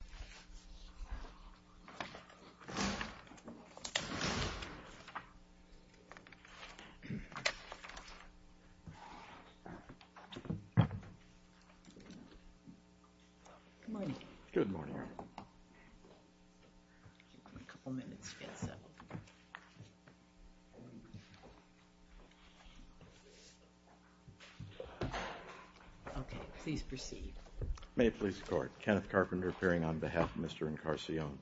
Good morning. Good morning. A couple minutes to get set. Okay, please proceed. May it please the court, Kenneth Carpenter appearing on behalf of Mr. Encarnacion.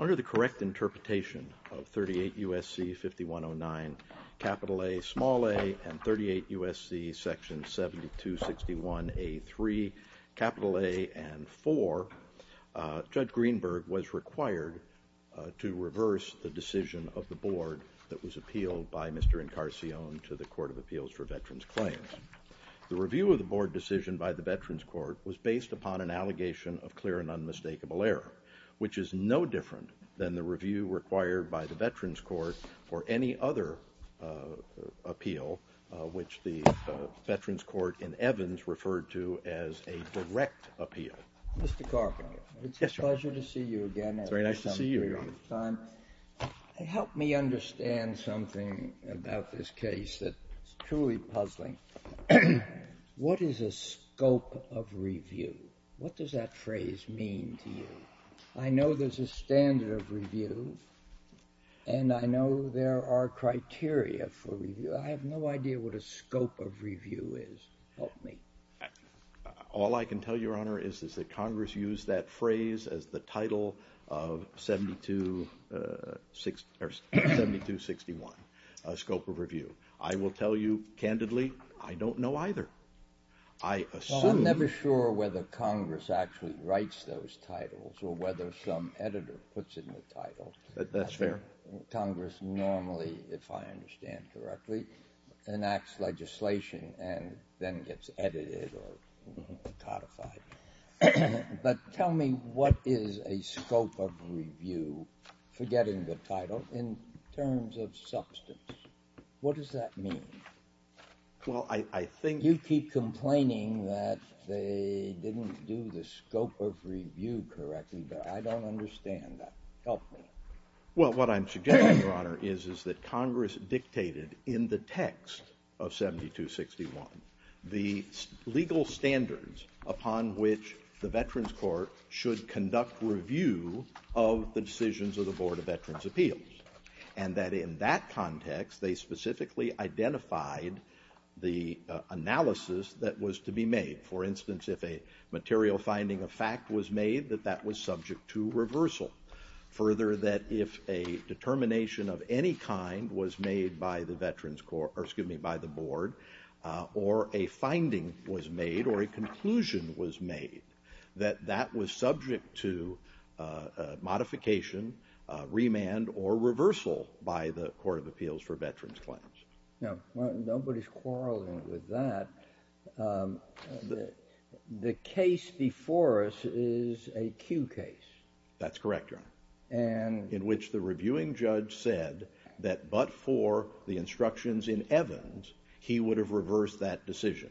Under the correct interpretation of 38 U.S.C. 5109, capital A, small a, and 38 U.S.C. section 7261A3, capital A, and 4, Judge Greenberg was required to reverse the decision of the board that was appealed by Mr. Encarnacion to the Court of Appeals for Veterans Claims. The review of the board decision by the Veterans Court was based upon an allegation of clear and unmistakable error, which is no different than the review required by the Veterans Court for any other appeal, which the Veterans Court in Evans referred to as a direct appeal. Mr. Carpenter, it's a pleasure to see you again. It's very nice to see you. Help me understand something about this case that's truly puzzling. What is a scope of review? What does that phrase mean to you? I know there's a standard of review, and I know there are criteria for review. I have no idea what a scope of review is. Help me. All I can tell you, Your Honor, is that Congress used that phrase as the title of 7261, scope of review. I will tell you candidly, I don't know either. I assume— Well, I'm never sure whether Congress actually writes those titles or whether some editor puts it in the title. That's fair. Congress normally, if I understand correctly, enacts legislation and then gets edited or codified. But tell me what is a scope of review, forgetting the title, in terms of substance? What does that mean? Well, I think— You keep complaining that they didn't do the scope of review correctly, but I don't understand that. Help me. Well, what I'm suggesting, Your Honor, is that Congress dictated in the text of 7261 the legal standards upon which the Veterans Court should conduct review of the decisions of the Board of Veterans' Appeals. And that in that context, they specifically identified the analysis that was to be made. For instance, if a material finding of fact was made, that that was subject to reversal. Further, that if a determination of any kind was made by the Board or a finding was made or a conclusion was made, that that was subject to modification, remand, or reversal by the Court of Appeals for veterans' claims. Now, nobody's quarreling with that. The case before us is a Q case. That's correct, Your Honor, in which the reviewing judge said that but for the instructions in Evans, he would have reversed that decision.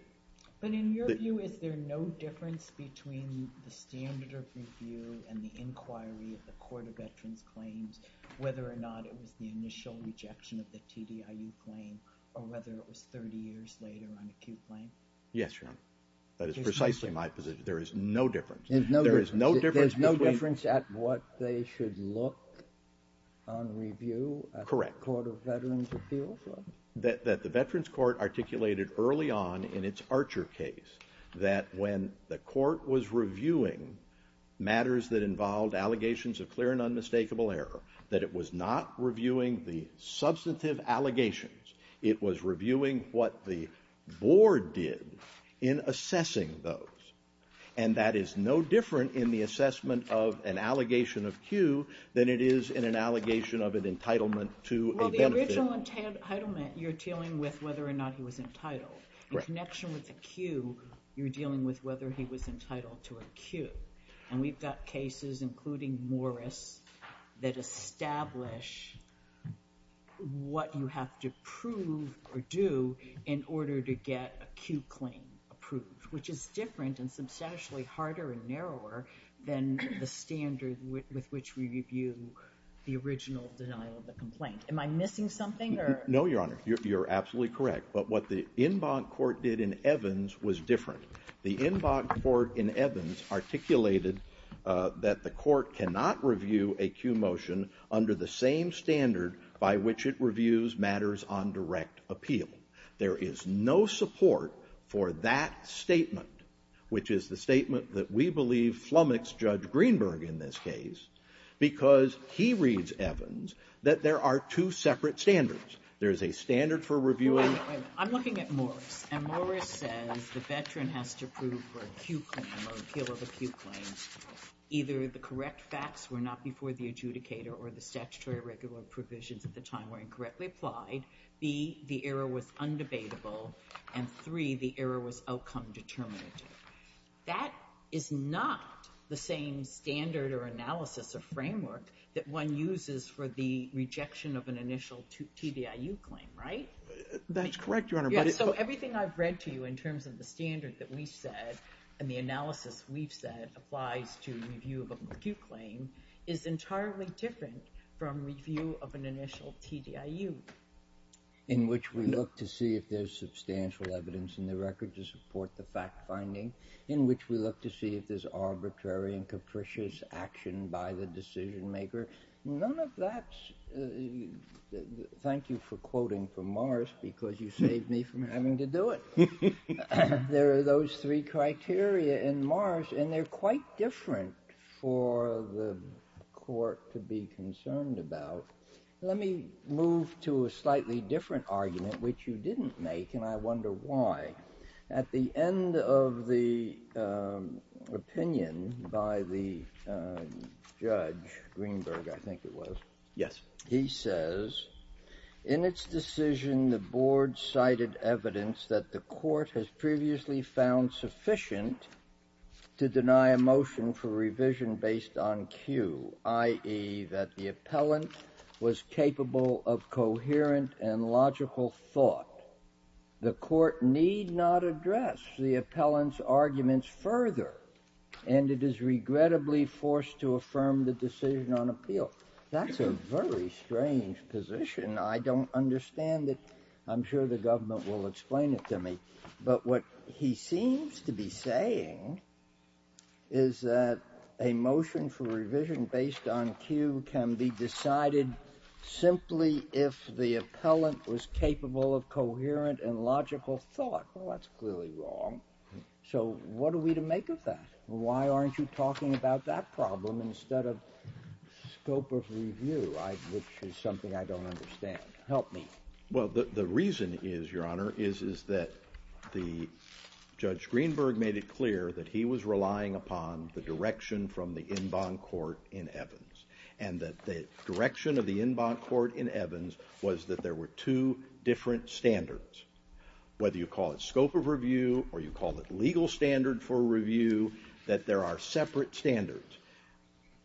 But in your view, is there no difference between the standard of review and the inquiry of the Court of Veterans' Claims, whether or not it was the initial rejection of the TDIU claim or whether it was 30 years later on acute blame? Yes, Your Honor. That is precisely my position. There is no difference. There's no difference at what they should look on review at the Court of Veterans' Appeals? That the Veterans' Court articulated early on in its Archer case that when the Court was reviewing matters that involved allegations of clear and unmistakable error, that it was not reviewing the substantive allegations. It was reviewing what the Board did in assessing those. And that is no different in the assessment of an allegation of Q than it is in an allegation of an entitlement to a benefit. Well, the original entitlement, you're dealing with whether or not he was entitled. In connection with the Q, you're dealing with whether he was entitled to a Q. And we've got cases, including Morris, that establish what you have to prove or do in order to get a Q claim approved, which is different and substantially harder and narrower than the standard with which we review the original denial of the complaint. Am I missing something, or...? No, Your Honor. You're absolutely correct. But what the en banc court did in Evans was different. The en banc court in Evans articulated that the court cannot review a Q motion under the same standard by which it reviews matters on direct appeal. There is no support for that statement, which is the statement that we believe flummoxed Judge Greenberg in this case, because he reads, Evans, that there are two separate standards. There is a standard for reviewing... Wait a minute. I'm looking at Morris. And Morris says the veteran has to prove for a Q claim or appeal of a Q claim either the correct facts were not before the adjudicator or the statutory regular provisions at the time were incorrectly applied, B, the error was undebatable, and 3, the error was outcome determinative. That is not the same standard or analysis or framework that one uses for the rejection of an initial TDIU claim, right? That's correct, Your Honor, but... Yeah, so everything I've read to you in terms of the standard that we've said and the analysis we've said applies to review of a Q claim is entirely different from review of an initial TDIU. In which we look to see if there's substantial evidence in the record to support the fact-finding, in which we look to see if there's arbitrary and capricious action by the decision-maker. None of that's... Thank you for quoting from Morris because you saved me from having to do it. There are those three criteria in Morris, and they're quite different for the court to be concerned about. Let me move to a slightly different argument, which you didn't make, and I wonder why. At the end of the opinion by the judge, Greenberg, I think it was... Yes. He says, in its decision, the board cited evidence that the court has previously found sufficient to deny a motion for revision based on Q, i.e., that the appellant was capable of coherent and logical thought. The court need not address the appellant's arguments further, and it is regrettably forced to affirm the decision on appeal. That's a very strange position. I don't understand it. I'm sure the government will explain it to me. But what he seems to be saying is that a motion for revision based on Q can be decided simply if the appellant was capable of coherent and logical thought. Well, that's clearly wrong. So what are we to make of that? Why aren't you talking about that problem instead of scope of review, which is something I don't understand? Help me. Well, the reason is, Your Honor, is that Judge Greenberg made it clear that he was relying upon the direction from the en banc court in Evans, and that the direction of the en banc court in Evans was that there were two different standards. Whether you call it scope of review or you call it legal standard for review, that there are separate standards.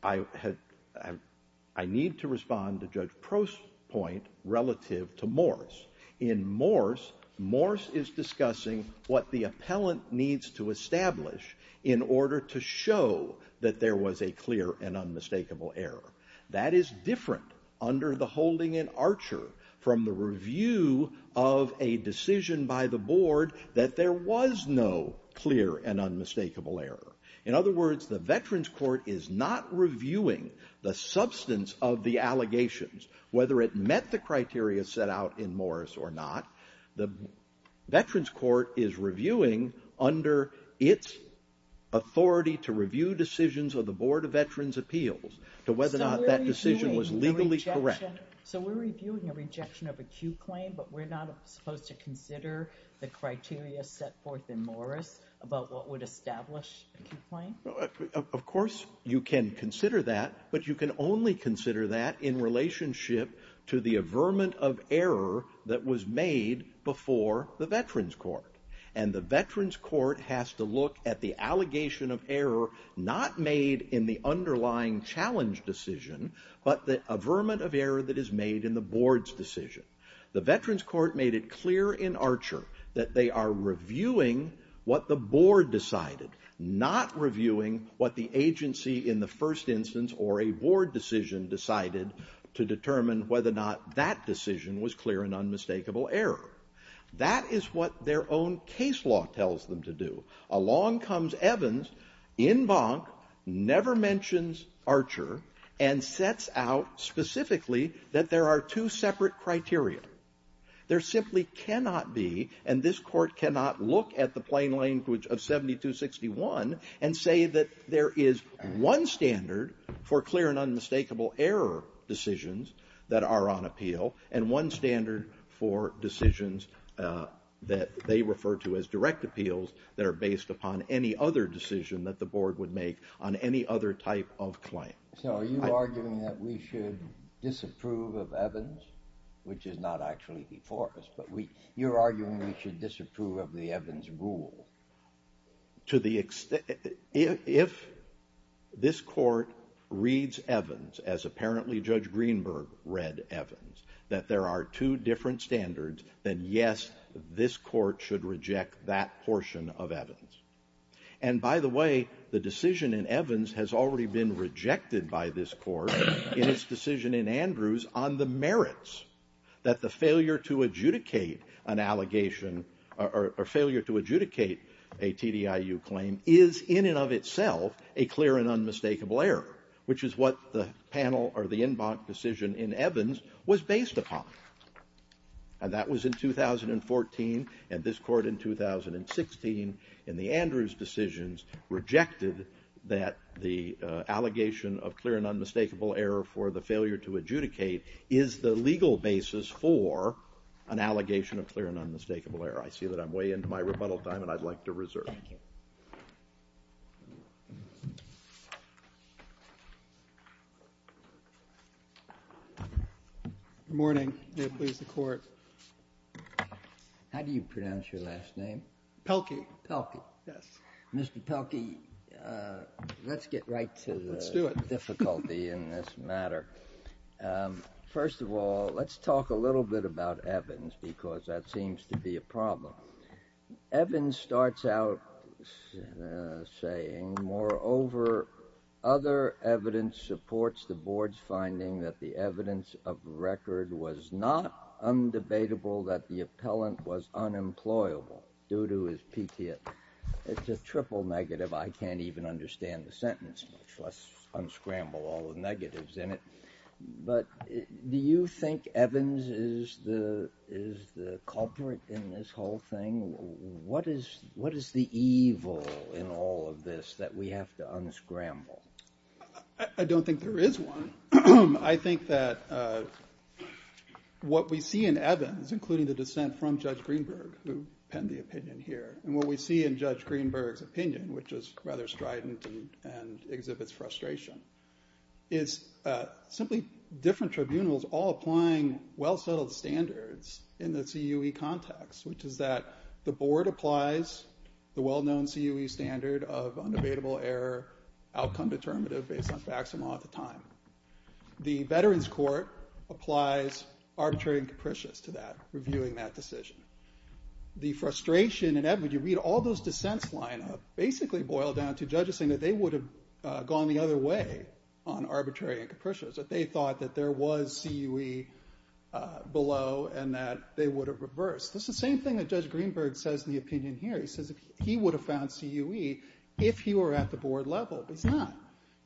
I need to respond to Judge Prost's point relative to Morse. In Morse, Morse is discussing what the appellant needs to establish in order to show that there was a clear and unmistakable error. That is different under the holding in Archer from the review of a decision by the board that there was no clear and unmistakable error. In other words, the Veterans Court is not reviewing the substance of the allegations, whether it met the criteria set out in Morse or not. The Veterans Court is reviewing under its authority to review decisions of the Board of Veterans' Appeals to whether or not that decision was legally correct. So we're reviewing a rejection of a Q claim, but we're not supposed to consider the criteria set forth in Morse about what would establish a Q claim? Of course you can consider that, but you can only consider that in relationship to the averment of error that was made before the Veterans Court. And the Veterans Court has to look at the allegation of error not made in the underlying challenge decision, but the averment of error that is made in the board's decision. The Veterans Court made it clear in Archer that they are reviewing what the board decided, not reviewing what the agency in the first instance or a board decision decided to determine whether or not that decision was clear and unmistakable error. That is what their own case law tells them to do. Along comes Evans, en banc, never mentions Archer, and sets out specifically that there are two separate criteria. There simply cannot be, and this court cannot look at the plain language of 7261 and say that there is one standard for clear and unmistakable error decisions that are on appeal, and one standard for decisions that they refer to as direct appeals that are based upon any other decision that the board would make on any other type of claim. So are you arguing that we should disapprove of Evans, which is not actually before us, but you're arguing we should disapprove of the Evans rule? If this court reads Evans as apparently Judge Greenberg read Evans, that there are two different standards, then yes, this court should reject that portion of Evans. And by the way, the decision in Evans has already been rejected by this court in its decision in Andrews on the merits that the failure to adjudicate an allegation or failure to adjudicate a TDIU claim is in and of itself a clear and unmistakable error, which is what the panel or the en banc decision in Evans was based upon. And that was in 2014, and this court in 2016 in the Andrews decisions rejected that the allegation of clear and unmistakable error for the failure to adjudicate is the legal basis for an allegation of clear and unmistakable error. I see that I'm way into my rebuttal time, and I'd like to reserve. Thank you. Good morning. May it please the court. How do you pronounce your last name? Pelkey. Pelkey. Yes. Mr. Pelkey, let's get right to the difficulty in this matter. First of all, let's talk a little bit about Evans, because that seems to be a problem. Evans starts out saying, moreover, other evidence supports the board's finding that the evidence of record was not undebatable that the appellant was unemployable due to his PTA. It's a triple negative. I can't even understand the sentence, much less unscramble all the negatives in it. But do you think Evans is the culprit in this whole thing? What is the evil in all of this that we have to unscramble? I don't think there is one. I think that what we see in Evans, including the dissent from Judge Greenberg, who penned the opinion here, and what we see in Judge Greenberg's opinion, which is rather strident and exhibits frustration, is simply different tribunals all applying well-settled standards in the CUE context, which is that the board applies the well-known CUE standard of unavailable error outcome determinative based on facsimile at the time. The Veterans Court applies arbitrary and capricious to that, reviewing that decision. The frustration in Evans, you read all those dissents line up, basically boil down to judges saying that they would have gone the other way on arbitrary and capricious. That they thought that there was CUE below and that they would have reversed. It's the same thing that Judge Greenberg says in the opinion here. He says he would have found CUE if he were at the board level, but he's not.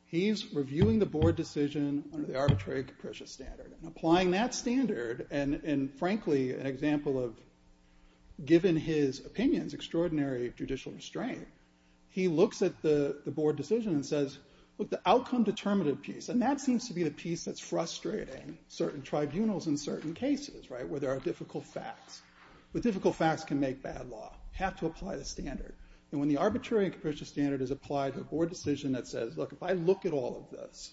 He's reviewing the board decision under the arbitrary and capricious standard. Applying that standard, and frankly, an example of, given his opinions, extraordinary judicial restraint, he looks at the board decision and says, look, the outcome determinative piece, and that seems to be the piece that's frustrating certain tribunals in certain cases, right, where there are difficult facts. But difficult facts can make bad law. Have to apply the standard. And when the arbitrary and capricious standard is applied to a board decision that says, look, if I look at all of this,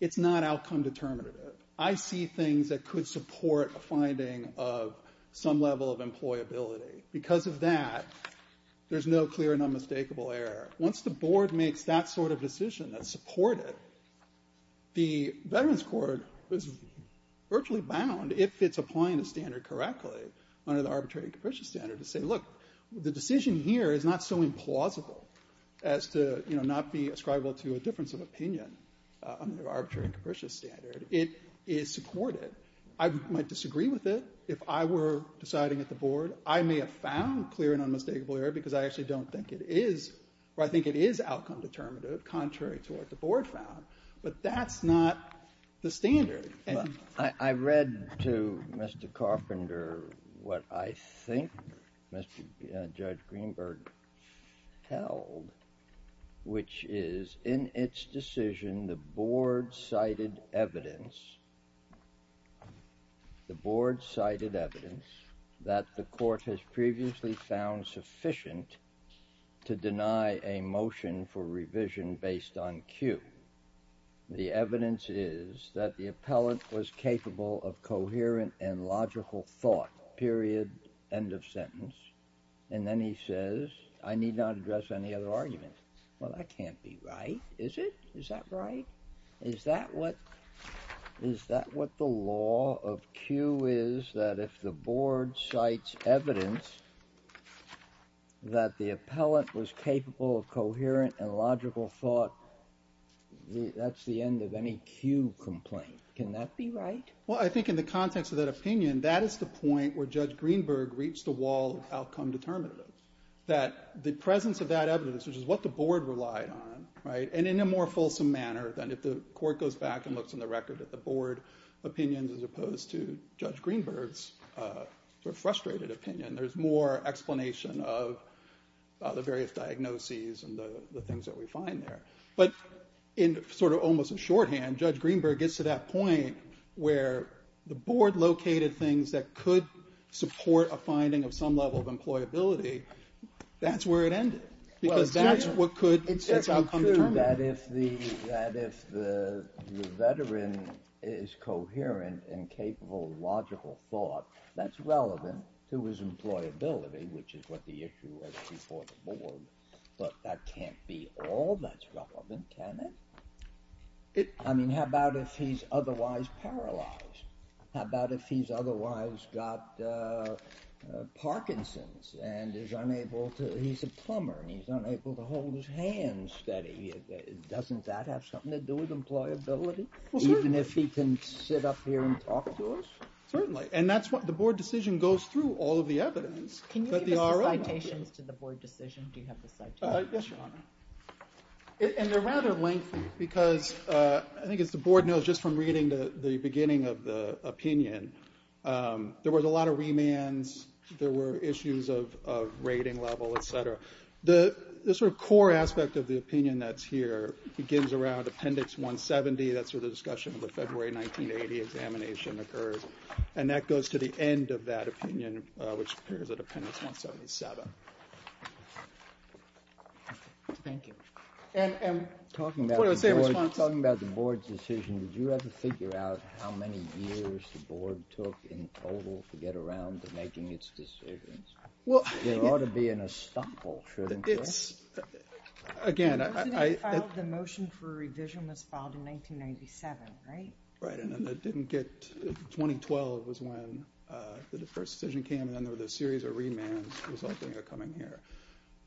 it's not outcome determinative. I see things that could support a finding of some level of employability. Because of that, there's no clear and unmistakable error. Once the board makes that sort of decision that support it, the Veterans Court is virtually bound, if it's applying the standard correctly, under the arbitrary and capricious standard to say, look, the decision here is not so implausible as to, you know, not be ascribable to a difference of opinion under the arbitrary and capricious standard. It is supported. I might disagree with it if I were deciding at the board. I may have found clear and unmistakable error because I actually don't think it is, or I think it is outcome determinative, contrary to what the board found. But that's not the standard. I read to Mr. Carpenter what I think Judge Greenberg held, which is in its decision, the board cited evidence, the board cited evidence, that the court has previously found sufficient to deny a motion for revision based on Q. The evidence is that the appellant was capable of coherent and logical thought, period, end of sentence. And then he says, I need not address any other arguments. Well, that can't be right, is it? Is that right? Is that what the law of Q is, that if the board cites evidence that the appellant was capable of coherent and logical thought, that's the end of any Q complaint? Can that be right? Well, I think in the context of that opinion, that is the point where Judge Greenberg reached the wall of outcome determinative, that the presence of that evidence, which is what the board relied on, and in a more fulsome manner than if the court goes back and looks in the record at the board opinions as opposed to Judge Greenberg's frustrated opinion. There's more explanation of the various diagnoses and the things that we find there. But in sort of almost a shorthand, Judge Greenberg gets to that point where the board located things that could support a finding of some level of employability. That's where it ended. Because that's what could, it's outcome determinative. That if the veteran is coherent and capable of logical thought, that's relevant to his employability, which is what the issue was before the board. But that can't be all that's relevant, can it? I mean, how about if he's otherwise paralyzed? How about if he's otherwise got Parkinson's and is unable to, he's a plumber and he's unable to hold his hands steady? Doesn't that have something to do with employability? Well, certainly. Even if he can sit up here and talk to us? Certainly. And that's what the board decision goes through, all of the evidence. Can you give us the citations to the board decision? Do you have the citations? Yes, Your Honor. And they're rather lengthy, because I think as the board knows just from reading the beginning of the opinion, there was a lot of remands. There were issues of rating level, et cetera. The sort of core aspect of the opinion that's here begins around Appendix 170. That's where the discussion of the February 1980 examination occurs. And that goes to the end of that opinion, which appears at Appendix 177. Thank you. And talking about the board's decision, did you ever figure out how many years the board took in total to get around to making its decisions? There ought to be an estoppel, shouldn't there? It's, again, I- The motion for revision was filed in 1997, right? Right. And it didn't get, 2012 was when the first decision came, and then there was a series of remands resulting or coming here.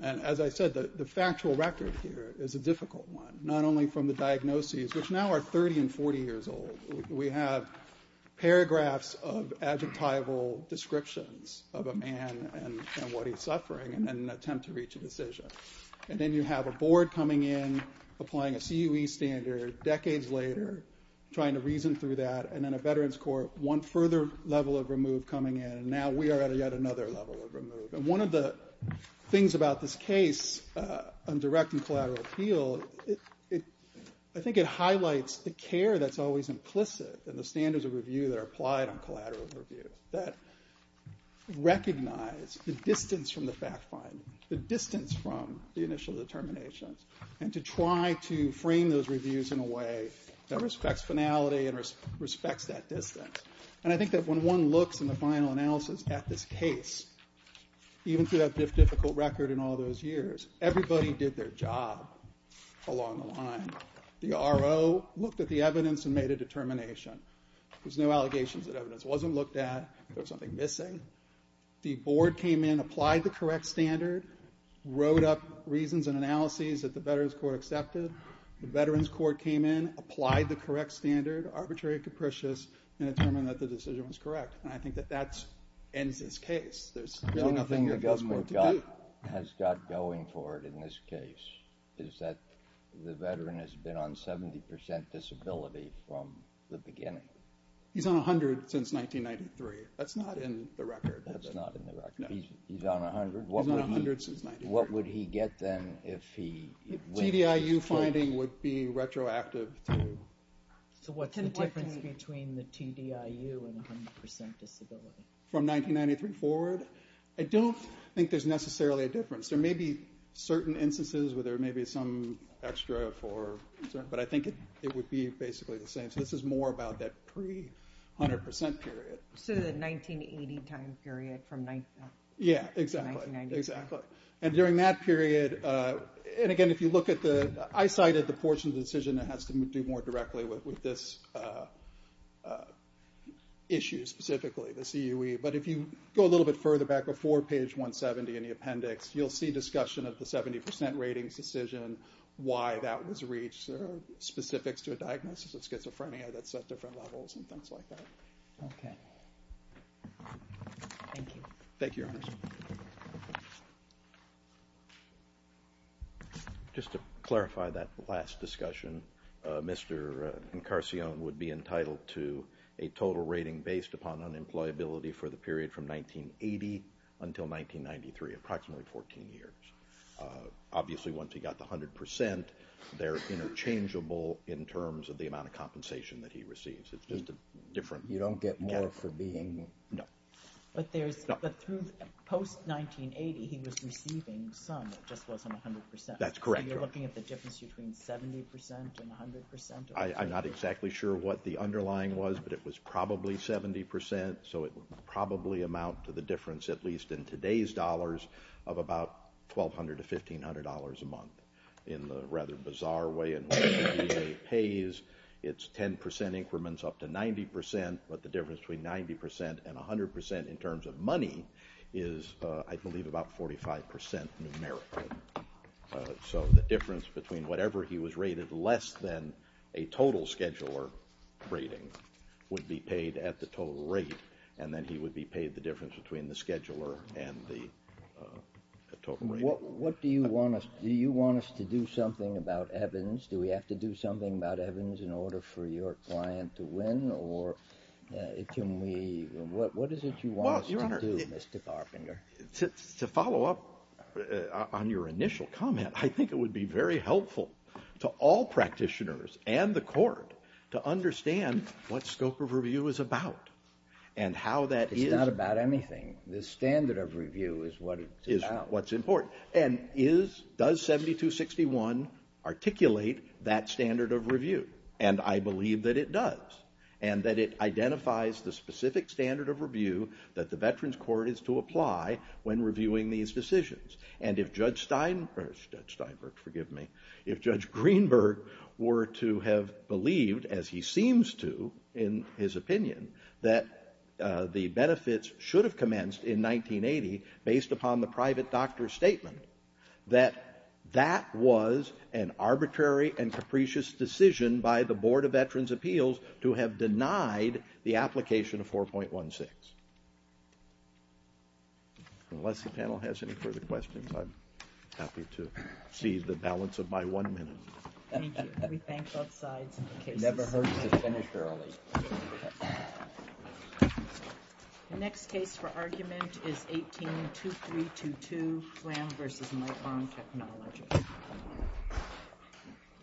And as I said, the factual record here is a difficult one, not only from the diagnoses, which now are 30 and 40 years old. We have paragraphs of adjectival descriptions of a man and what he's suffering in an attempt to reach a decision. And then you have a board coming in, applying a CUE standard decades later, trying to reason through that. And then a veterans court, one further level of remove coming in, and now we are at yet another level of remove. And one of the things about this case on direct and collateral appeal, I think it highlights the care that's always implicit in the standards of review that are applied on collateral review, that recognize the distance from the fact find, the distance from the initial determinations, and to try to frame those reviews in a way that respects finality and respects that distance. And I think that when one looks in the final analysis at this case, even through that difficult record in all those years, everybody did their job along the line. The RO looked at the evidence and made a determination. There's no allegations that evidence wasn't looked at, there was something missing. The board came in, applied the correct standard, wrote up reasons and analyses that the veterans court accepted. The veterans court came in, applied the correct standard, arbitrary and capricious, and determined that the decision was correct. And I think that that ends this case. There's nothing that goes more to do. The only thing the government has got going for it in this case is that the veteran has been on 70% disability from the beginning. He's on 100% since 1993. That's not in the record. That's not in the record. He's on 100%. He's on 100% since 1993. What would he get then if he... TDIU finding would be retroactive to... So what's the difference between the TDIU and 100% disability? From 1993 forward? I don't think there's necessarily a difference. There may be certain instances where there may be some extra for... But I think it would be basically the same. So this is more about that pre-100% period. So the 1980 time period from... Yeah, exactly. From 1993. Exactly. And during that period... And again, if you look at the... I cited the portion of the decision that has to do more directly with this issue specifically, the CUE. But if you go a little bit further back before page 170 in the appendix, you'll see discussion of the 70% ratings decision, why that was reached, specifics to a diagnosis of schizophrenia that's at different levels and things like that. Okay. Thank you. Thank you, Your Honor. Just to clarify that last discussion, Mr. Encarcion would be entitled to a total rating based upon unemployability for the period from 1980 until 1993, approximately 14 years. Obviously, once he got the 100%, they're interchangeable in terms of the amount of compensation that he receives. It's just a different... You don't get more for being... No. But there's... No. But through post-1980, he was receiving some. It just wasn't 100%. That's correct, Your Honor. So you're looking at the difference between 70% and 100%? I'm not exactly sure what the underlying was, but it was probably 70%, so it would probably amount to the difference, at least in today's dollars, of about $1,200 to $1,500 a month. In the rather bizarre way in which the VA pays, it's 10% increments up to 90%, but the difference between 90% and 100% in terms of money is, I believe, about 45% numerically. So the difference between whatever he was rated less than a total scheduler rating would be paid at the total rate, and then he would be paid the difference between the scheduler and the total rating. What do you want us... Do you want us to do something about Evans? Do we have to do something about Evans in order for your client to win, or can we... What is it you want us to do, Mr. Carpenter? To follow up on your initial comment, I think it would be very helpful to all practitioners and the Court to understand what scope of review is about and how that is... It's not about anything. The standard of review is what it's about. And does 7261 articulate that standard of review? And I believe that it does, and that it identifies the specific standard of review that the Veterans Court is to apply when reviewing these decisions. And if Judge Steinberg were to have believed, as he seems to in his opinion, that the benefits should have commenced in 1980 based upon the private doctor's statement, that that was an arbitrary and capricious decision by the Board of Veterans' Appeals to have denied the application of 4.16. Unless the panel has any further questions, I'm happy to see the balance of my one minute. Thank you. We thank both sides. It never hurts to finish early. The next case for argument is 18-2322, Glam v. Lightbomb Technology.